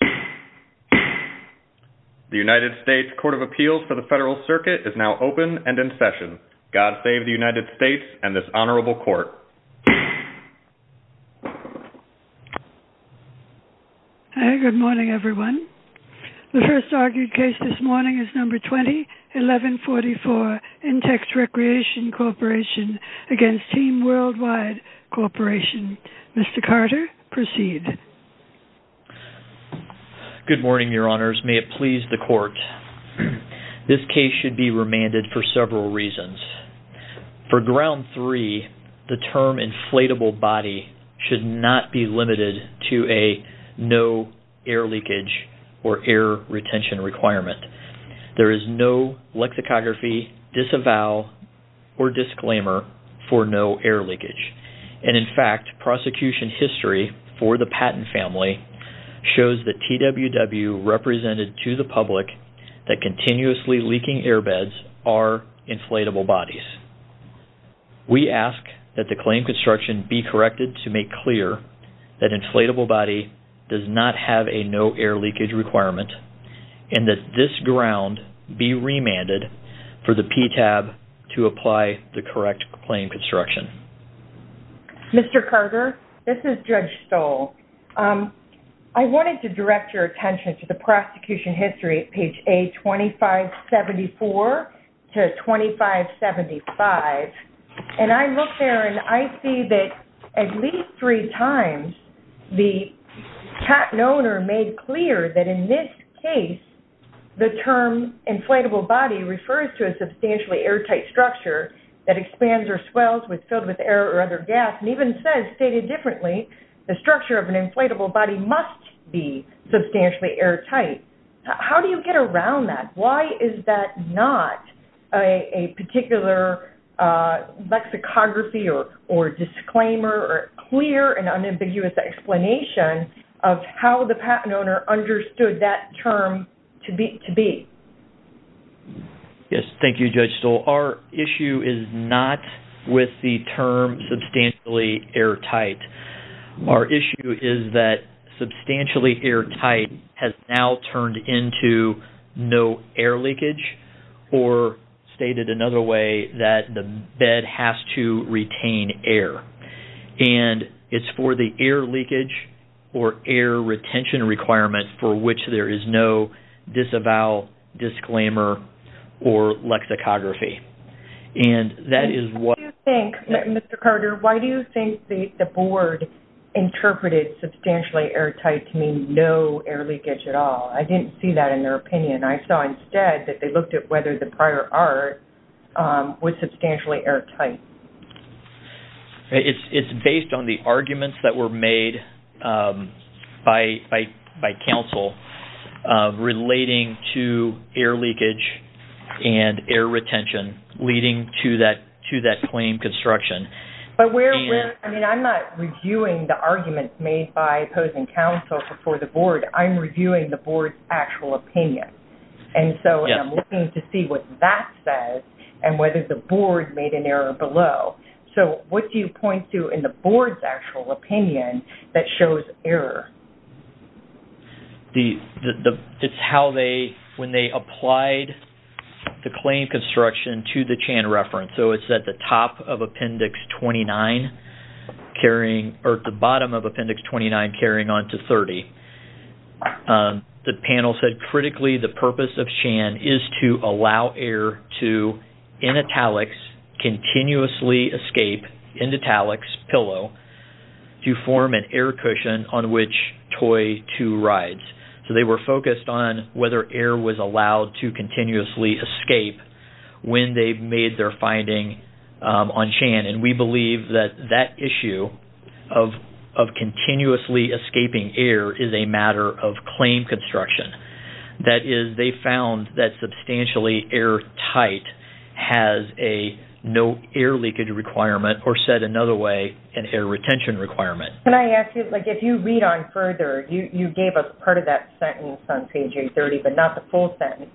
The United States Court of Appeals for the Federal Circuit is now open and in session. God save the United States and this honorable court. Good morning, everyone. The first argued case this morning is No. 20-1144, Intex Recreation Corporation v. Team Worldwide Corporation. Mr. Carter, proceed. Good morning, Your Honors. May it please the court. This case should be remanded for several reasons. For ground three, the term inflatable body should not be limited to a no air leakage or air retention requirement. There is no lexicography, disavow, or disclaimer for no air leakage. And in fact, prosecution history for the Patton family shows that TWW represented to the public that continuously leaking airbeds are inflatable bodies. We ask that the claim construction be corrected to make clear that inflatable body does not have a no air leakage requirement and that this ground be remanded for the PTAB to apply the correct claim construction. Mr. Carter, this is Judge Stoll. I wanted to direct your attention to the prosecution history at page A2574-2575. And I look there and I see that at least three times the Patton owner made clear that in this case, the term inflatable body refers to a substantially airtight structure that expands or swells with filled with air or other gas. And even says, stated differently, the structure of an inflatable body must be substantially airtight. How do you get around that? Why is that not a particular lexicography or disclaimer or clear and unambiguous explanation of how the Patton owner understood that term to be? Yes, thank you, Judge Stoll. Our issue is not with the term substantially airtight. Our issue is that substantially airtight has now turned into no air leakage or stated another way that the bed has to retain air. And it's for the air leakage or air retention requirement for which there is no disavowal, disclaimer, or lexicography. Mr. Carter, why do you think the board interpreted substantially airtight to mean no air leakage at all? I didn't see that in their opinion. I saw instead that they looked at whether the prior art was substantially airtight. It's based on the arguments that were made by counsel relating to air leakage and air retention leading to that claim construction. I'm not reviewing the arguments made by opposing counsel for the board. I'm reviewing the board's actual opinion. And so, I'm looking to see what that says and whether the board made an error below. So, what do you point to in the board's actual opinion that shows error? It's how they, when they applied the claim construction to the Chan reference. So, it's at the top of Appendix 29 carrying or at the bottom of Appendix 29 carrying on to 30. The panel said, critically, the purpose of Chan is to allow air to, in italics, continuously escape, in italics, pillow, to form an air cushion on which toy two rides. So, they were focused on whether air was allowed to continuously escape when they made their finding on Chan. And we believe that that issue of continuously escaping air is a matter of claim construction. That is, they found that substantially airtight has a no air leakage requirement or said another way, an air retention requirement. Can I ask you, like, if you read on further, you gave us part of that sentence on page 830, but not the full sentence.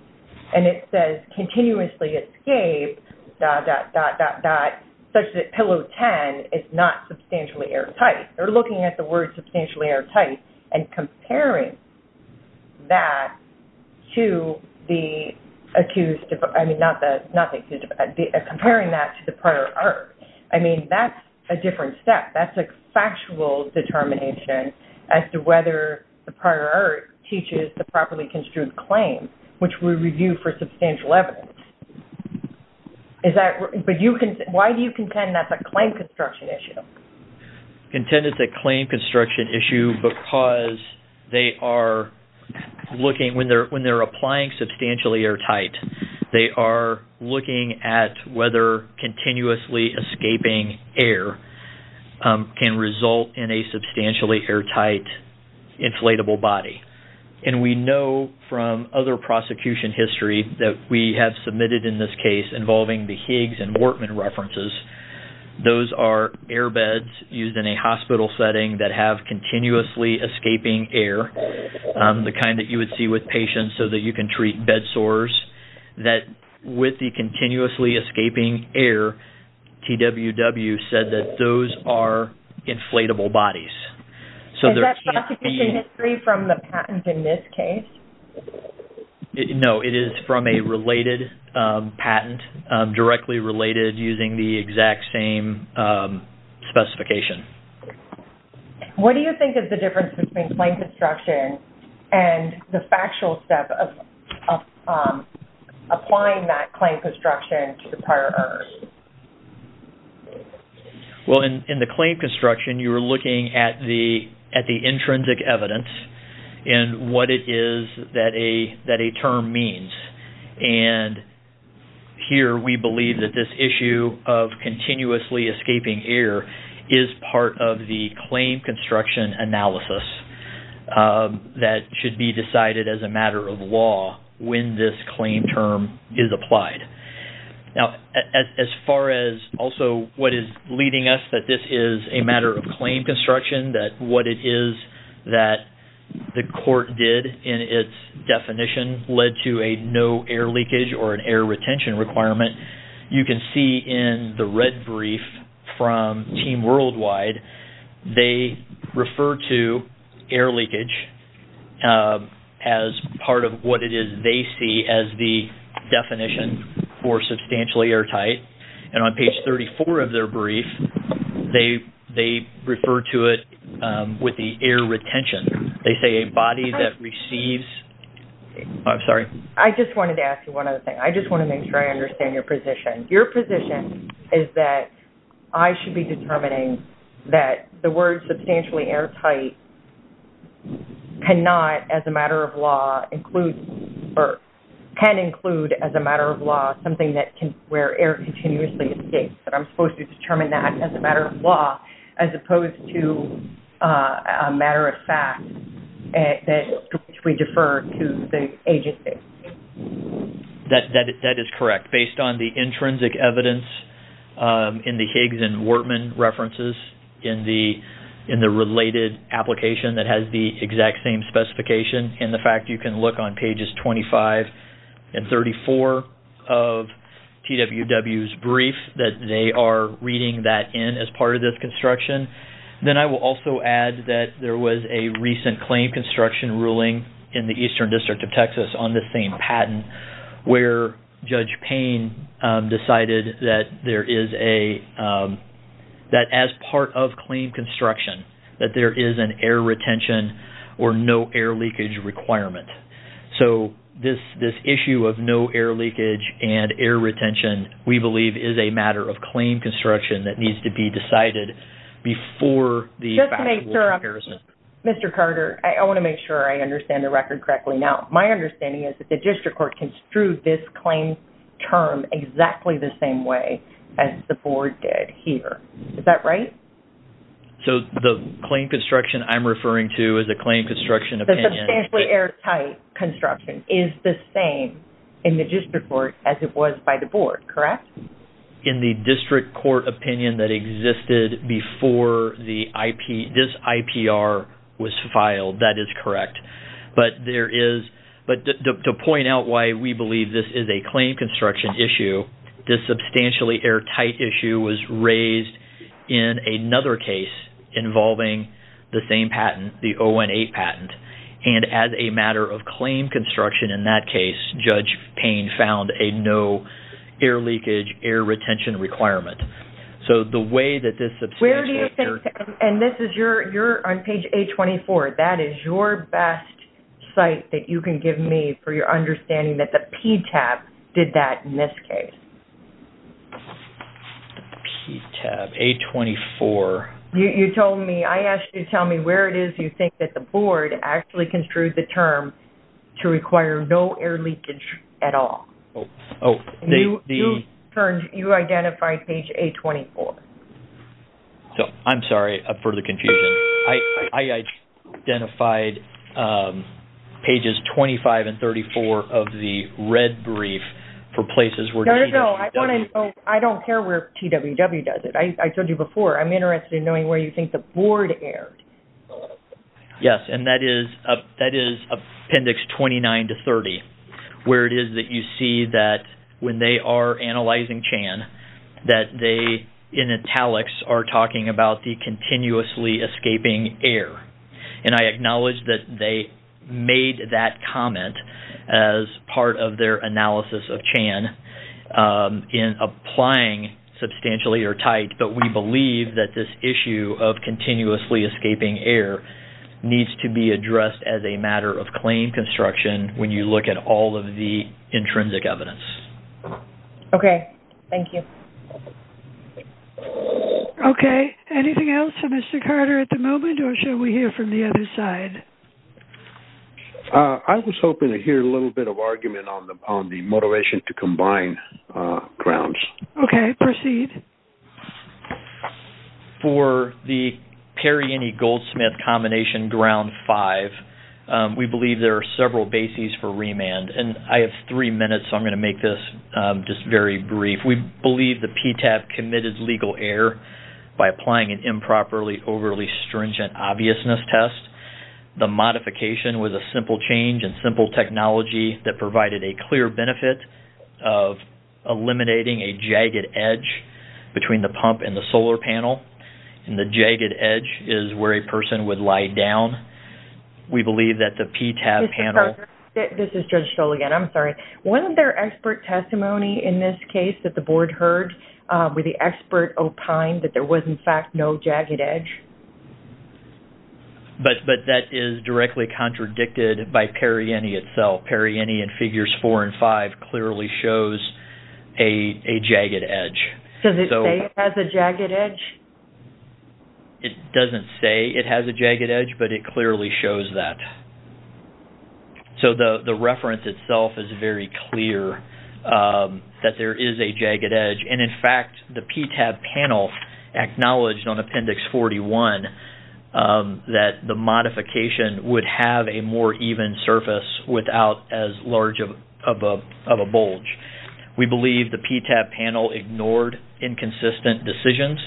And it says, continuously escape, dot, dot, dot, dot, dot, such that pillow 10 is not substantially airtight. They're looking at the word substantially airtight and comparing that to the accused, I mean, not the, not the, comparing that to the prior art. Which we review for substantial evidence. Is that, but you can, why do you contend that's a claim construction issue? Contend it's a claim construction issue because they are looking, when they're, when they're applying substantially airtight, they are looking at whether continuously escaping air can result in a substantially airtight inflatable body. And we know from other prosecution history that we have submitted in this case involving the Higgs and Wartman references. Those are airbeds used in a hospital setting that have continuously escaping air. The kind that you would see with patients so that you can treat bed sores. That with the continuously escaping air, TWW said that those are inflatable bodies. Is that prosecution history from the patent in this case? No, it is from a related patent, directly related using the exact same specification. What do you think is the difference between claim construction and the factual step of applying that claim construction to the prior earners? Well, in the claim construction, you are looking at the intrinsic evidence and what it is that a term means. And here we believe that this issue of continuously escaping air is part of the claim construction analysis that should be decided as a matter of law when this claim term is applied. Now, as far as also what is leading us that this is a matter of claim construction, that what it is that the court did in its definition led to a no air leakage or an air retention requirement, you can see in the red brief from Team Worldwide, they refer to air leakage as part of what it is they see as the definition for substantially airtight. And on page 34 of their brief, they refer to it with the air retention. They say a body that receives... I'm sorry. I just wanted to ask you one other thing. I just want to make sure I understand your position. Your position is that I should be determining that the word substantially airtight cannot as a matter of law include or can include as a matter of law something where air continuously escapes. That I'm supposed to determine that as a matter of law as opposed to a matter of fact that we defer to the agency. That is correct. Based on the intrinsic evidence in the Higgs and Wartman references, in the related application that has the exact same specification, and the fact you can look on pages 25 and 34 of TWW's brief, that they are reading that in as part of this construction. Then I will also add that there was a recent claim construction ruling in the Eastern District of Texas on the same patent where Judge Payne decided that as part of claim construction, that there is an air retention or no air leakage requirement. So this issue of no air leakage and air retention, we believe, is a matter of claim construction that needs to be decided before the factual comparison. Just to make sure, Mr. Carter, I want to make sure I understand the record correctly. Now, my understanding is that the district court construed this claim term exactly the same way as the board did here. Is that right? So the claim construction I'm referring to is a claim construction opinion. The substantially airtight construction is the same in the district court as it was by the board, correct? In the district court opinion that existed before this IPR was filed, that is correct. But to point out why we believe this is a claim construction issue, this substantially airtight issue was raised in another case involving the same patent, the 018 patent. And as a matter of claim construction in that case, Judge Payne found a no air leakage, air retention requirement. Where do you think, and this is your, you're on page A24. That is your best site that you can give me for your understanding that the PTAB did that in this case. The PTAB, A24. You told me, I asked you to tell me where it is you think that the board actually construed the term to require no air leakage at all. You identified page A24. I'm sorry for the confusion. I identified pages 25 and 34 of the red brief for places where TWW. I don't care where TWW does it. I told you before, I'm interested in knowing where you think the board aired. Yes, and that is appendix 29 to 30, where it is that you see that when they are analyzing Chan, that they in italics are talking about the continuously escaping air. And I acknowledge that they made that comment as part of their analysis of Chan in applying substantially airtight. But we believe that this issue of continuously escaping air needs to be addressed as a matter of claim construction when you look at all of the intrinsic evidence. Okay. Thank you. Okay. Anything else for Mr. Carter at the moment, or shall we hear from the other side? I was hoping to hear a little bit of argument on the motivation to combine grounds. Okay. Proceed. For the Perrini-Goldsmith combination ground five, we believe there are several bases for remand. And I have three minutes, so I'm going to make this just very brief. We believe the PTAP committed legal error by applying an improperly overly stringent obviousness test. The modification was a simple change and simple technology that provided a clear benefit of eliminating a jagged edge between the pump and the solar panel. And the jagged edge is where a person would lie down. We believe that the PTAP panel – This is Judge Stoll again. I'm sorry. Wasn't there expert testimony in this case that the board heard with the expert opine that there was, in fact, no jagged edge? But that is directly contradicted by Perrini itself. Perrini in figures four and five clearly shows a jagged edge. Does it say it has a jagged edge? It doesn't say it has a jagged edge, but it clearly shows that. So the reference itself is very clear that there is a jagged edge. And, in fact, the PTAP panel acknowledged on Appendix 41 that the modification would have a more even surface without as large of a bulge. We believe the PTAP panel ignored inconsistent decisions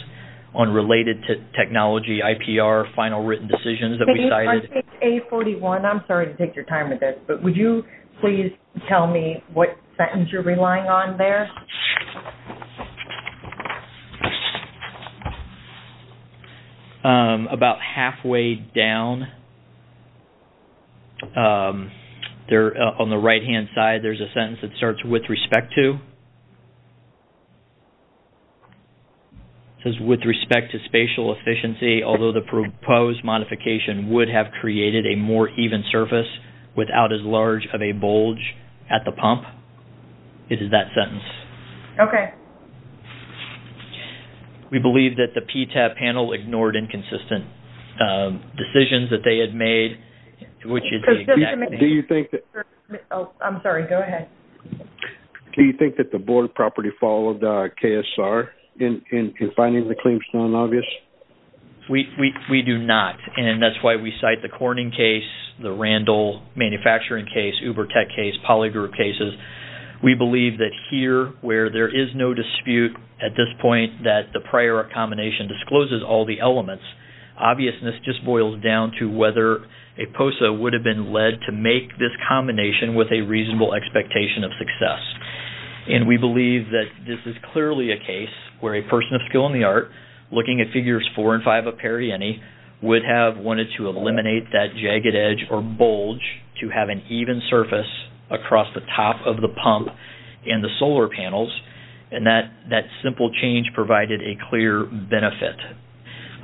on related technology, IPR, final written decisions that we cited. On Appendix A41, I'm sorry to take your time with this, but would you please tell me what sentence you're relying on there? About halfway down, on the right-hand side, there's a sentence that starts with respect to. It says, with respect to spatial efficiency, although the proposed modification would have created a more even surface without as large of a bulge at the pump. It is that sentence. Okay. We believe that the PTAP panel ignored inconsistent decisions that they had made, which is. Do you think that. I'm sorry, go ahead. Do you think that the board of property followed KSR in finding the claims non-obvious? We do not, and that's why we cite the Corning case, the Randall manufacturing case, Uber Tech case, polygroup cases. We believe that here, where there is no dispute at this point that the prior combination discloses all the elements, obviousness just boils down to whether a POSA would have been led to make this combination with a reasonable expectation of success. And we believe that this is clearly a case where a person of skill in the art, looking at Figures 4 and 5 of Periani, would have wanted to eliminate that jagged edge or bulge to have an even surface across the top of the pump and the solar panels, and that simple change provided a clear benefit.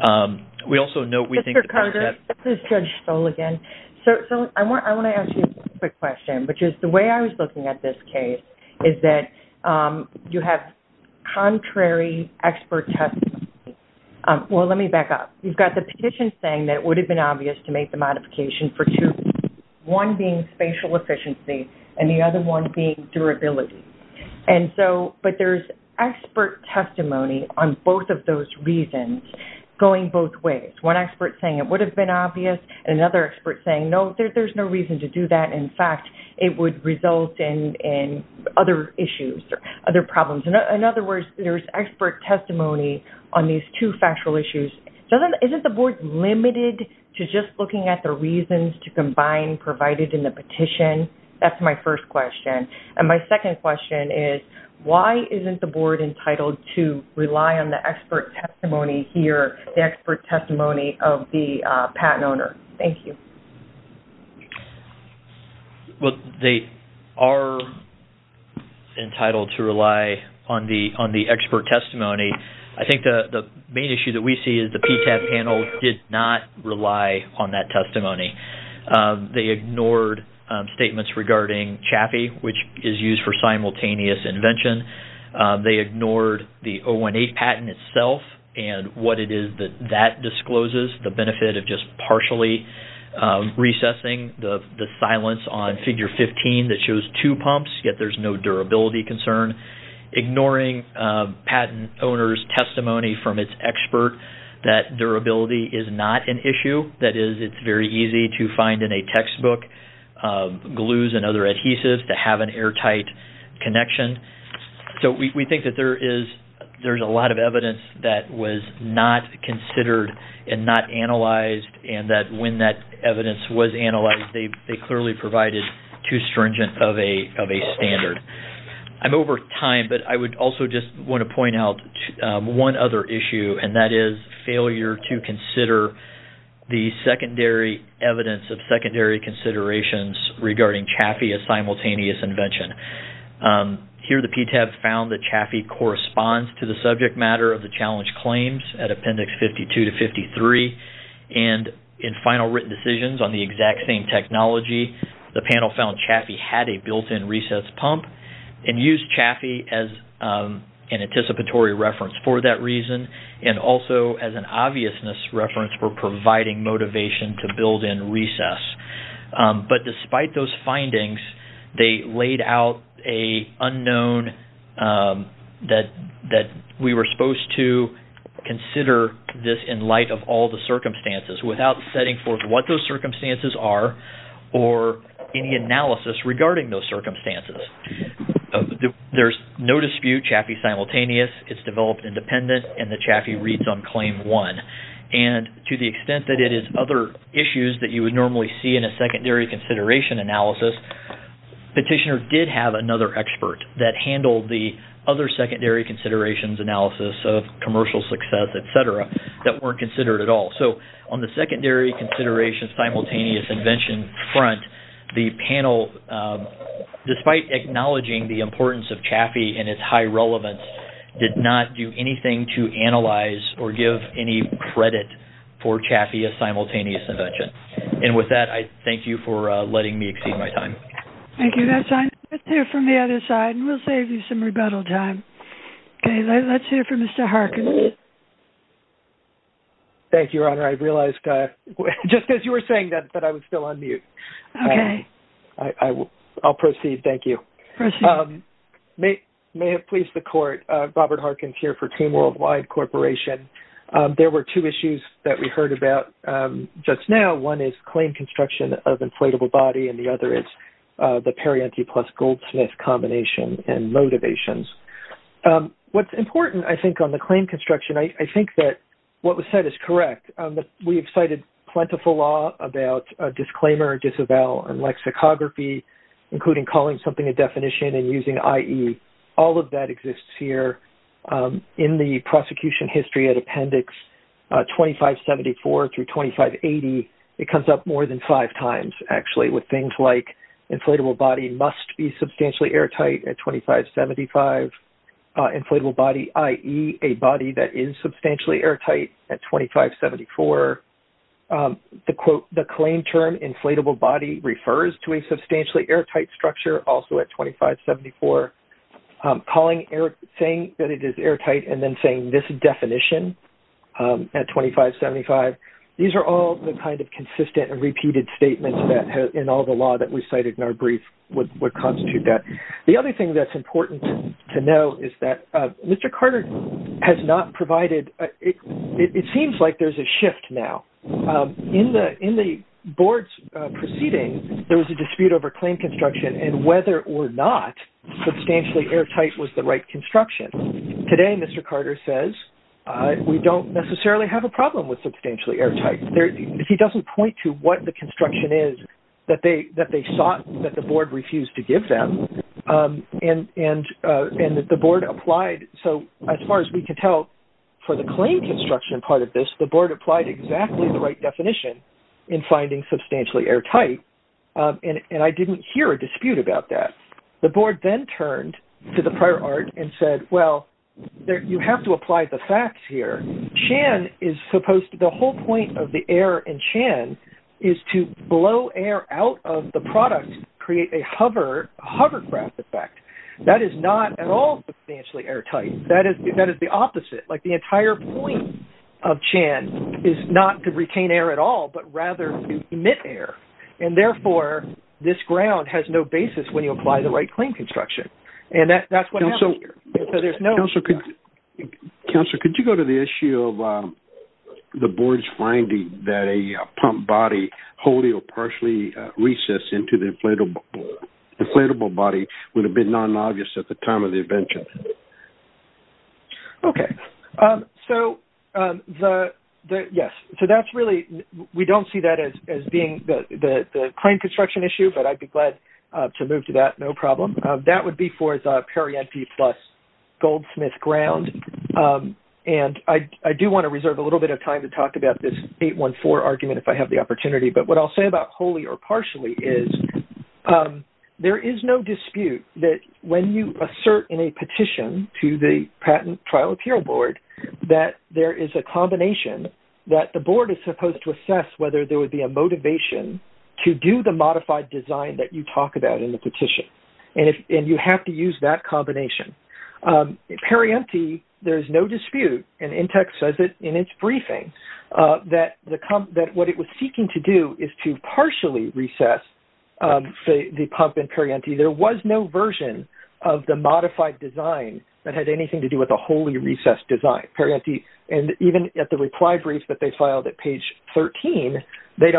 Mr. Carter, this is Judge Stoll again. So I want to ask you a quick question, which is the way I was looking at this case is that you have contrary expert testimony. Well, let me back up. You've got the petition saying that it would have been obvious to make the modification for two reasons, one being spatial efficiency and the other one being durability. But there's expert testimony on both of those reasons going both ways. One expert saying it would have been obvious and another expert saying, no, there's no reason to do that. In fact, it would result in other issues or other problems. In other words, there's expert testimony on these two factual issues. Isn't the Board limited to just looking at the reasons to combine provided in the petition? That's my first question. And my second question is, why isn't the Board entitled to rely on the expert testimony here, the expert testimony of the patent owner? Thank you. Well, they are entitled to rely on the expert testimony. I think the main issue that we see is the PTAP panel did not rely on that testimony. They ignored statements regarding CHAPI, which is used for simultaneous invention. They ignored the 018 patent itself and what it is that that discloses, the benefit of just partially recessing the silence on Figure 15 that shows two pumps, yet there's no durability concern. Ignoring patent owner's testimony from its expert that durability is not an issue, that is it's very easy to find in a textbook glues and other adhesives to have an airtight connection. So we think that there is a lot of evidence that was not considered and not analyzed and that when that evidence was analyzed, they clearly provided too stringent of a standard. I'm over time, but I would also just want to point out one other issue, and that is failure to consider the secondary evidence of secondary considerations regarding CHAPI as simultaneous invention. Here the PTAP found that CHAPI corresponds to the subject matter of the challenge claims at Appendix 52 to 53, and in final written decisions on the exact same technology, the panel found CHAPI had a built-in recessed pump and used CHAPI as an anticipatory reference for that reason and also as an obviousness reference for providing motivation to build in recess. But despite those findings, they laid out a unknown that we were supposed to consider this in light of all the circumstances without setting forth what those circumstances are or any analysis regarding those circumstances. There's no dispute, CHAPI's simultaneous, it's developed independent, and the CHAPI reads on Claim 1. And to the extent that it is other issues that you would normally see in a secondary consideration analysis, Petitioner did have another expert that handled the other secondary considerations analysis of commercial success, et cetera, that weren't considered at all. So on the secondary considerations simultaneous invention front, the panel, despite acknowledging the importance of CHAPI and its high relevance, did not do anything to analyze or give any credit for CHAPI as simultaneous invention. And with that, I thank you for letting me exceed my time. Thank you. Let's hear from the other side, and we'll save you some rebuttal time. Okay, let's hear from Mr. Harkin. Thank you, Your Honor. I realized just as you were saying that I was still on mute. Okay. I'll proceed, thank you. Proceed. May it please the Court, Robert Harkin here for Team Worldwide Corporation. There were two issues that we heard about just now. One is claim construction of inflatable body, and the other is the Perianti plus Goldsmith combination and motivations. What's important, I think, on the claim construction, I think that what was said is correct. We have cited plentiful law about disclaimer, disavow, and lexicography, including calling something a definition and using IE. All of that exists here. In the prosecution history at Appendix 2574 through 2580, it comes up more than five times, actually, with things like inflatable body must be substantially airtight at 2575. Inflatable body, IE, a body that is substantially airtight at 2574. The claim term inflatable body refers to a substantially airtight structure also at 2574. Saying that it is airtight and then saying this definition at 2575, these are all the kind of consistent and repeated statements in all the law that we cited in our brief would constitute that. The other thing that's important to know is that Mr. Carter has not provided, it seems like there's a shift now. In the board's proceeding, there was a dispute over claim construction and whether or not substantially airtight was the right construction. Today, Mr. Carter says, we don't necessarily have a problem with substantially airtight. He doesn't point to what the construction is that they sought, that the board refused to give them. And the board applied, so as far as we can tell, for the claim construction part of this, the board applied exactly the right definition in finding substantially airtight. And I didn't hear a dispute about that. The board then turned to the prior art and said, well, you have to apply the facts here. Chan is supposed to, the whole point of the air in Chan is to blow air out of the product, create a hovercraft effect. That is not at all substantially airtight. That is the opposite. Like the entire point of Chan is not to retain air at all, but rather to emit air. And therefore, this ground has no basis when you apply the right claim construction. And that's what happened here. Counselor, could you go to the issue of the board's finding that a pump body holding or partially recessed into the inflatable body would have been non-obvious at the time of the invention? Okay. So, yes. So that's really, we don't see that as being the claim construction issue, but I'd be glad to move to that, no problem. That would be for the Perrienti plus Goldsmith ground. And I do want to reserve a little bit of time to talk about this 814 argument if I have the opportunity. But what I'll say about wholly or partially is there is no dispute that when you assert in a petition to the patent trial appeal board that there is a combination that the board is supposed to assess whether there would be a motivation to do the modified design that you talk about in the petition. And you have to use that combination. Perrienti, there is no dispute, and Intex says it in its briefing, that what it was seeking to do is to partially recess the pump in Perrienti. There was no version of the modified design that had anything to do with a wholly recessed design. Perrienti, and even at the reply brief that they filed at page 13, they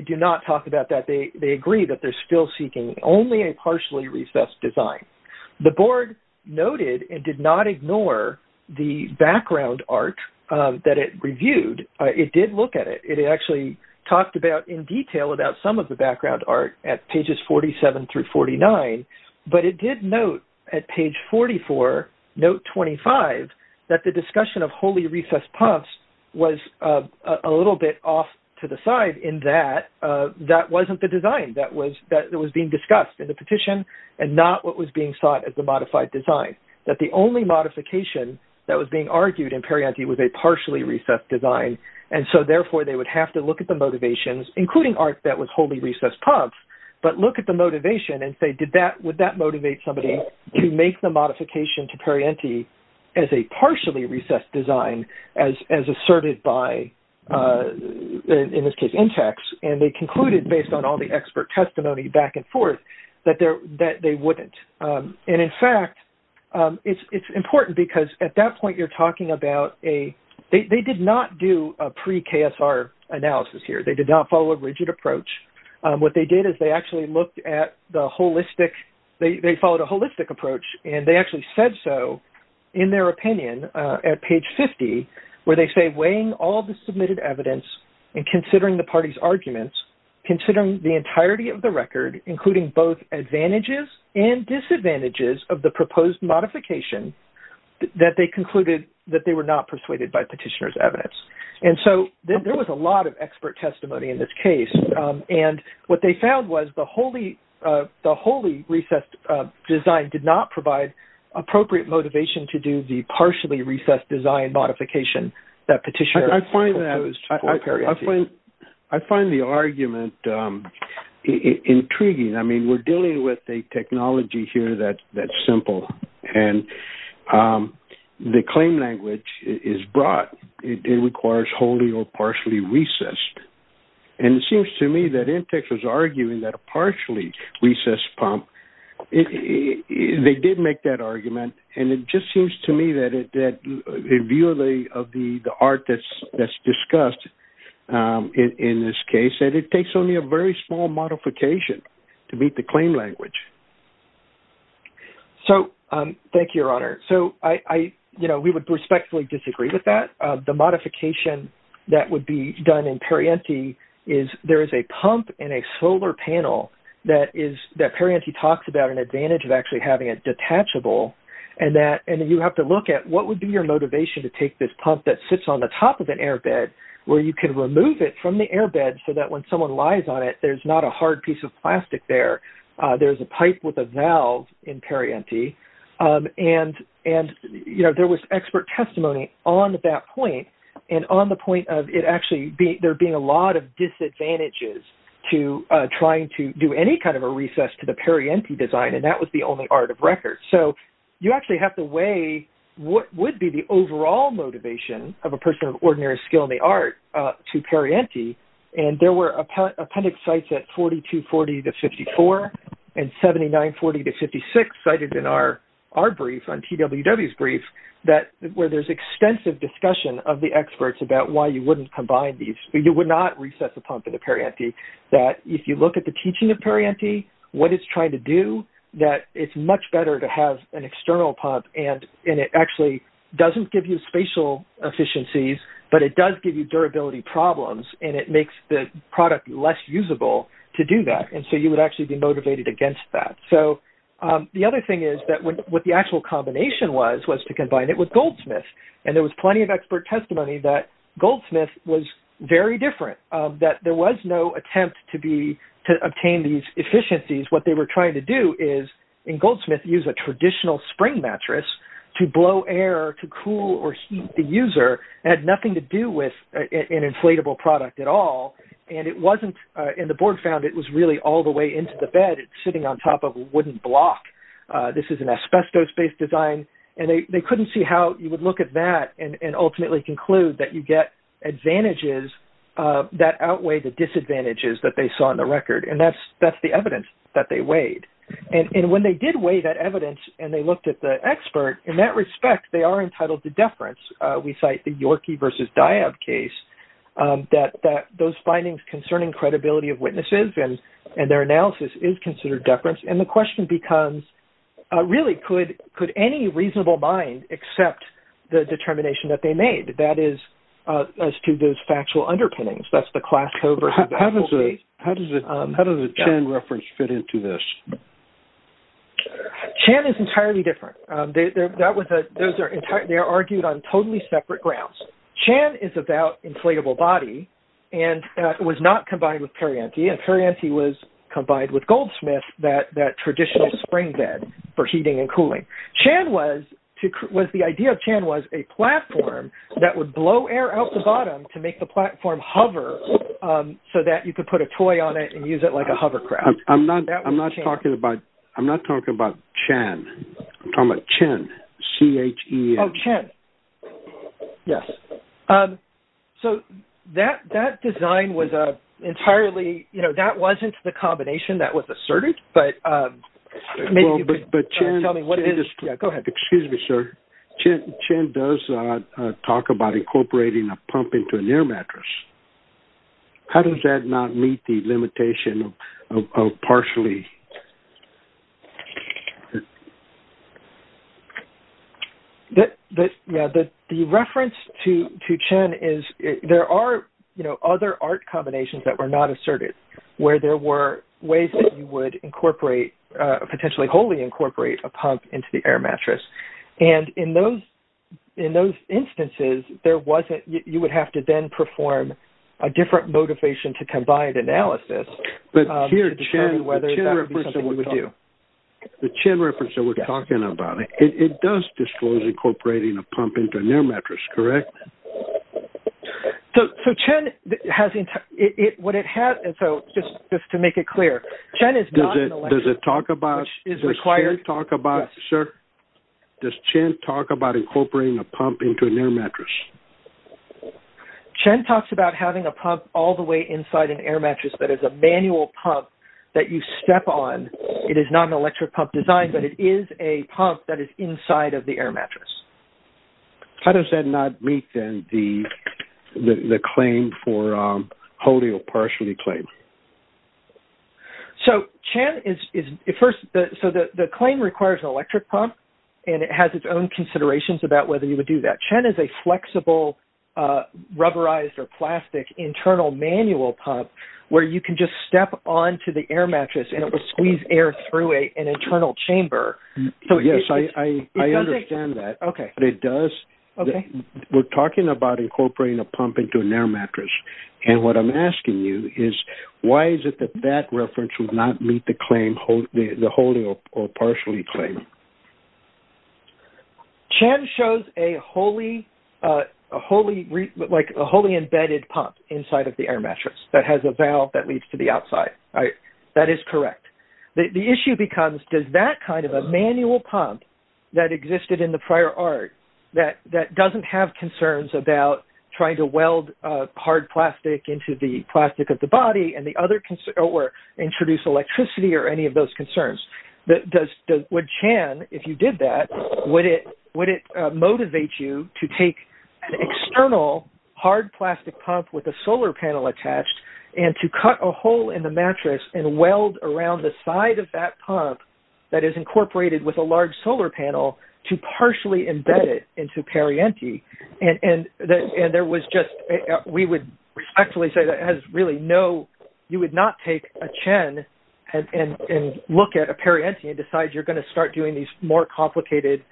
do not talk about that. They agree that they're still seeking only a partially recessed design. The board noted and did not ignore the background art that it reviewed. It did look at it. It actually talked about in detail about some of the background art at pages 47 through 49. But it did note at page 44, note 25, that the discussion of wholly recessed pumps was a little bit off to the side in that that wasn't the design that was being discussed in the petition and not what was being sought as the modified design. That the only modification that was being argued in Perrienti was a partially recessed design. And so, therefore, they would have to look at the motivations, including art that was wholly recessed pumps, but look at the motivation and say, would that motivate somebody to make the modification to Perrienti as a partially recessed design as asserted by, in this case, Intex? And they concluded, based on all the expert testimony back and forth, that they wouldn't. And, in fact, it's important because at that point you're talking about a-they did not do a pre-KSR analysis here. They did not follow a rigid approach. What they did is they actually looked at the holistic-they followed a holistic approach. And they actually said so in their opinion at page 50 where they say, weighing all the submitted evidence and considering the party's arguments, considering the entirety of the record, including both advantages and disadvantages of the proposed modification, that they concluded that they were not persuaded by petitioner's evidence. And so there was a lot of expert testimony in this case. And what they found was the wholly recessed design did not provide appropriate motivation to do the partially recessed design modification that petitioner proposed for Perrienti. I find that-I find the argument intriguing. I mean, we're dealing with a technology here that's simple. And the claim language is broad. It requires wholly or partially recessed. And it seems to me that Intex was arguing that a partially recessed pump-they did make that argument. And it just seems to me that in view of the art that's discussed in this case that it takes only a very small modification to meet the claim language. So, thank you, Your Honor. So, I-you know, we would respectfully disagree with that. The modification that would be done in Perrienti is there is a pump in a solar panel that is-that Perrienti talks about an advantage of actually having a detachable. And that-and you have to look at what would be your motivation to take this pump that sits on the top of an airbed where you can remove it from the airbed so that when someone lies on it, there's not a hard piece of plastic there. There's a pipe with a valve in Perrienti. And, you know, there was expert testimony on that point. And on the point of it actually-there being a lot of disadvantages to trying to do any kind of a recess to the Perrienti design. And that was the only art of record. So, you actually have to weigh what would be the overall motivation of a person of ordinary skill in the art to Perrienti. And there were appendix sites at 4240-54 and 7940-56 cited in our brief on TWW's brief that-where there's extensive discussion of the experts about why you wouldn't combine these. You would not recess a pump in a Perrienti. That if you look at the teaching of Perrienti, what it's trying to do, that it's much better to have an external pump. And it actually doesn't give you spatial efficiencies, but it does give you durability problems. And it makes the product less usable to do that. And so, you would actually be motivated against that. So, the other thing is that what the actual combination was, was to combine it with Goldsmith. And there was plenty of expert testimony that Goldsmith was very different, that there was no attempt to be-to obtain these efficiencies. What they were trying to do is, in Goldsmith, use a traditional spring mattress to blow air, to cool or heat the user. It had nothing to do with an inflatable product at all. And it wasn't-and the board found it was really all the way into the bed. It's sitting on top of a wooden block. This is an asbestos-based design. And they couldn't see how you would look at that and ultimately conclude that you get advantages that outweigh the disadvantages that they saw in the record. And that's the evidence that they weighed. And when they did weigh that evidence and they looked at the expert, in that respect, they are entitled to deference. We cite the Yorkey v. Diab case, that those findings concerning credibility of witnesses and their analysis is considered deference. And the question becomes, really, could any reasonable mind accept the determination that they made? That is, as to those factual underpinnings. That's the class covert- How does the Chan reference fit into this? Chan is entirely different. They are argued on totally separate grounds. Chan is about inflatable body, and that was not combined with Perianti. And Perianti was combined with Goldsmith, that traditional spring bed for heating and cooling. The idea of Chan was a platform that would blow air out the bottom to make the platform hover so that you could put a toy on it and use it like a hovercraft. I'm not talking about Chan. I'm talking about Chen, C-H-E-N. Oh, Chen. Yes. So that design was entirely-that wasn't the combination that was asserted. But Chen- Go ahead. Excuse me, sir. Chen does talk about incorporating a pump into an air mattress. How does that not meet the limitation of partially- The reference to Chen is-there are other art combinations that were not asserted, where there were ways that you would incorporate-potentially wholly incorporate a pump into the air mattress. And in those instances, there wasn't-you would have to then perform a different motivation to combine analysis to determine whether that would be something you would do. The Chen reference that we're talking about, it does disclose incorporating a pump into an air mattress, correct? So Chen has-what it has-and so just to make it clear, Chen is not- Does it talk about- Which is required- Does Chen talk about- Yes. Sir, does Chen talk about incorporating a pump into an air mattress? Chen talks about having a pump all the way inside an air mattress that is a manual pump that you step on. It is not an electric pump design, but it is a pump that is inside of the air mattress. How does that not meet, then, the claim for wholly or partially claim? So Chen is-first, so the claim requires an electric pump, and it has its own considerations about whether you would do that. But Chen is a flexible, rubberized or plastic internal manual pump where you can just step onto the air mattress and it will squeeze air through an internal chamber. So yes, I understand that. Okay. But it does- Okay. We're talking about incorporating a pump into an air mattress. And what I'm asking you is, why is it that that reference would not meet the claim-the wholly or partially claim? Chen shows a wholly-like a wholly embedded pump inside of the air mattress that has a valve that leads to the outside. All right. That is correct. The issue becomes, does that kind of a manual pump that existed in the prior art, that doesn't have concerns about trying to weld hard plastic into the plastic of the body and the other-or introduce electricity or any of those concerns? Would Chen, if you did that, would it motivate you to take an external hard plastic pump with a solar panel attached and to cut a hole in the mattress and weld around the side of that pump that is incorporated with a large solar panel to partially embed it into Perrienti? And there was just-we would respectfully say that it has really no-you would not take a Chen and look at a Perrienti and decide you're going to start doing these more complicated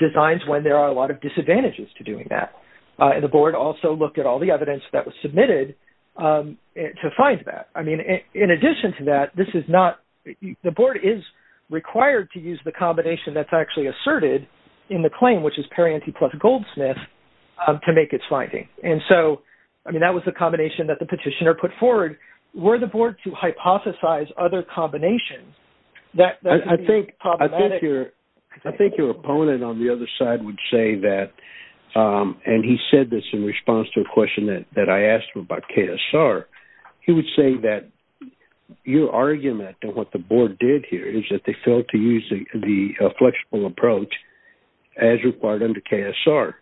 designs when there are a lot of disadvantages to doing that. And the board also looked at all the evidence that was submitted to find that. I mean, in addition to that, this is not-the board is required to use the combination that's actually asserted in the claim, which is Perrienti plus Goldsmith, to make its finding. And so, I mean, that was the combination that the petitioner put forward. Were the board to hypothesize other combinations, that would be problematic. I think your opponent on the other side would say that-and he said this in response to a question that I asked him about KSR. He would say that your argument and what the board did here is that they failed to use the flexible approach as required under KSR.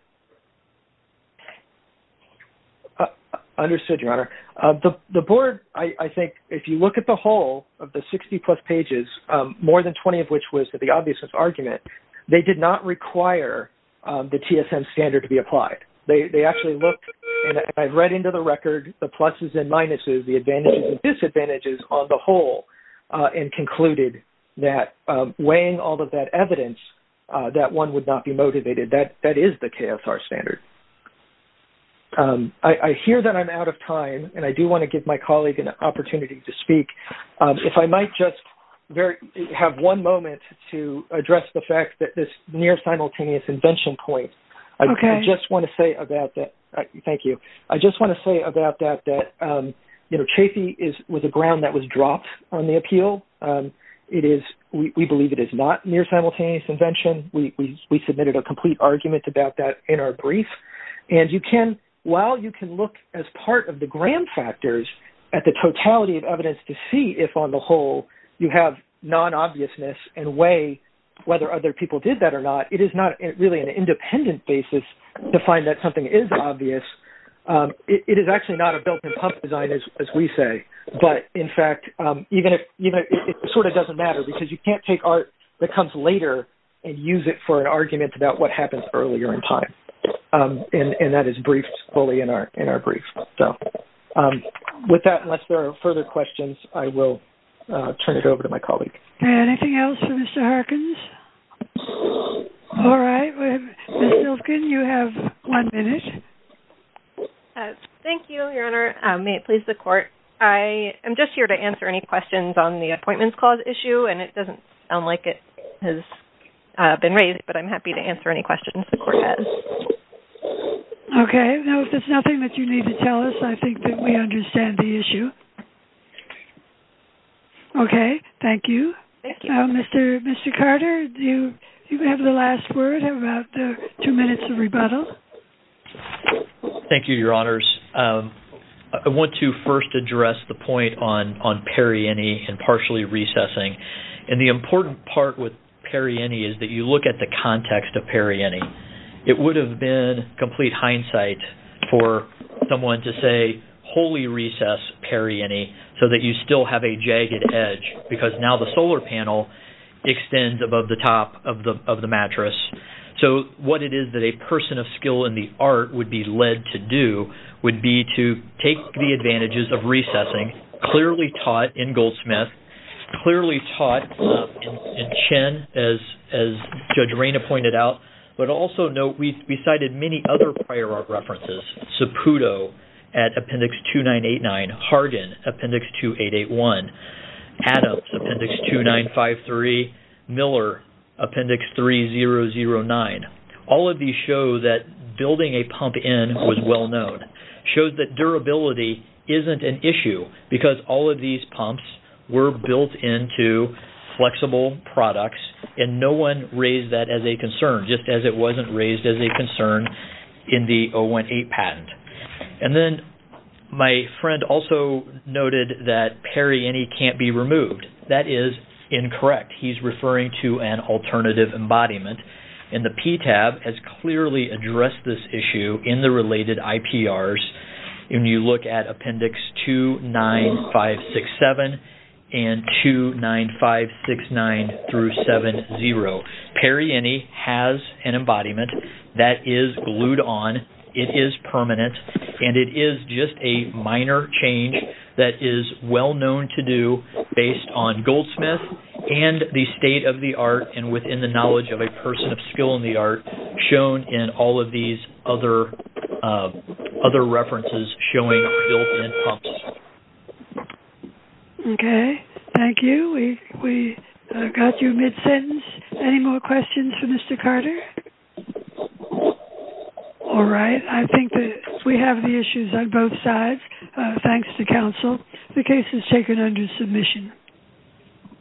Understood, Your Honor. The board, I think, if you look at the whole of the 60-plus pages, more than 20 of which was the obviousness argument, they did not require the TSM standard to be applied. They actually looked, and I've read into the record, the pluses and minuses, the advantages and disadvantages on the whole, and concluded that weighing all of that evidence, that one would not be motivated. That is the KSR standard. I hear that I'm out of time, and I do want to give my colleague an opportunity to speak. If I might just have one moment to address the fact that this near-simultaneous invention point. Okay. I just want to say about that-thank you. I just want to say about that that, you know, Chafee was a ground that was dropped on the appeal. It is-we believe it is not near-simultaneous invention. We submitted a complete argument about that in our brief, and you can-while you can look as part of the grand factors at the totality of evidence to see if, on the whole, you have non-obviousness and weigh whether other people did that or not, it is not really an independent basis to find that something is obvious. It is actually not a built-in pump design, as we say, but, in fact, even if-it sort of doesn't matter, because you can't take art that comes later and use it for an argument about what happens earlier in time, and that is briefed fully in our brief. So, with that, unless there are further questions, I will turn it over to my colleague. Anything else for Mr. Harkins? All right. Ms. Silvkin, you have one minute. Thank you, Your Honor. May it please the Court, I am just here to answer any questions on the Appointments Clause issue, and it doesn't sound like it has been raised, but I'm happy to answer any questions the Court has. Okay. Now, if there's nothing that you need to tell us, I think that we understand the issue. Okay. Thank you. Thank you. Mr. Carter, do you have the last word, have about two minutes of rebuttal? Thank you, Your Honors. I want to first address the point on perienne and partially recessing, and the important part with perienne is that you look at the context of perienne. It would have been complete hindsight for someone to say, so that you still have a jagged edge because now the solar panel extends above the top of the mattress. So what it is that a person of skill in the art would be led to do would be to take the advantages of recessing, clearly taught in Goldsmith, clearly taught in Chen, as Judge Reyna pointed out, but also note we cited many other prior art references, Saputo at Appendix 2989, Hargan, Appendix 2881, Adams, Appendix 2953, Miller, Appendix 3009. All of these show that building a pump in was well known, shows that durability isn't an issue because all of these pumps were built into flexible products, and no one raised that as a concern, just as it wasn't raised as a concern in the 018 patent. And then my friend also noted that perienne can't be removed. That is incorrect. He's referring to an alternative embodiment, and the PTAB has clearly addressed this issue in the related IPRs. When you look at Appendix 29567 and 29569 through 70, perienne has an embodiment that is glued on. It is permanent, and it is just a minor change that is well known to do based on Goldsmith and the state of the art and within the knowledge of a person of skill in the art shown in all of these other references showing built-in pumps. Okay. Thank you. We got you mid-sentence. Any more questions for Mr. Carter? All right. I think that we have the issues on both sides. Thanks to counsel. The case is taken under submission.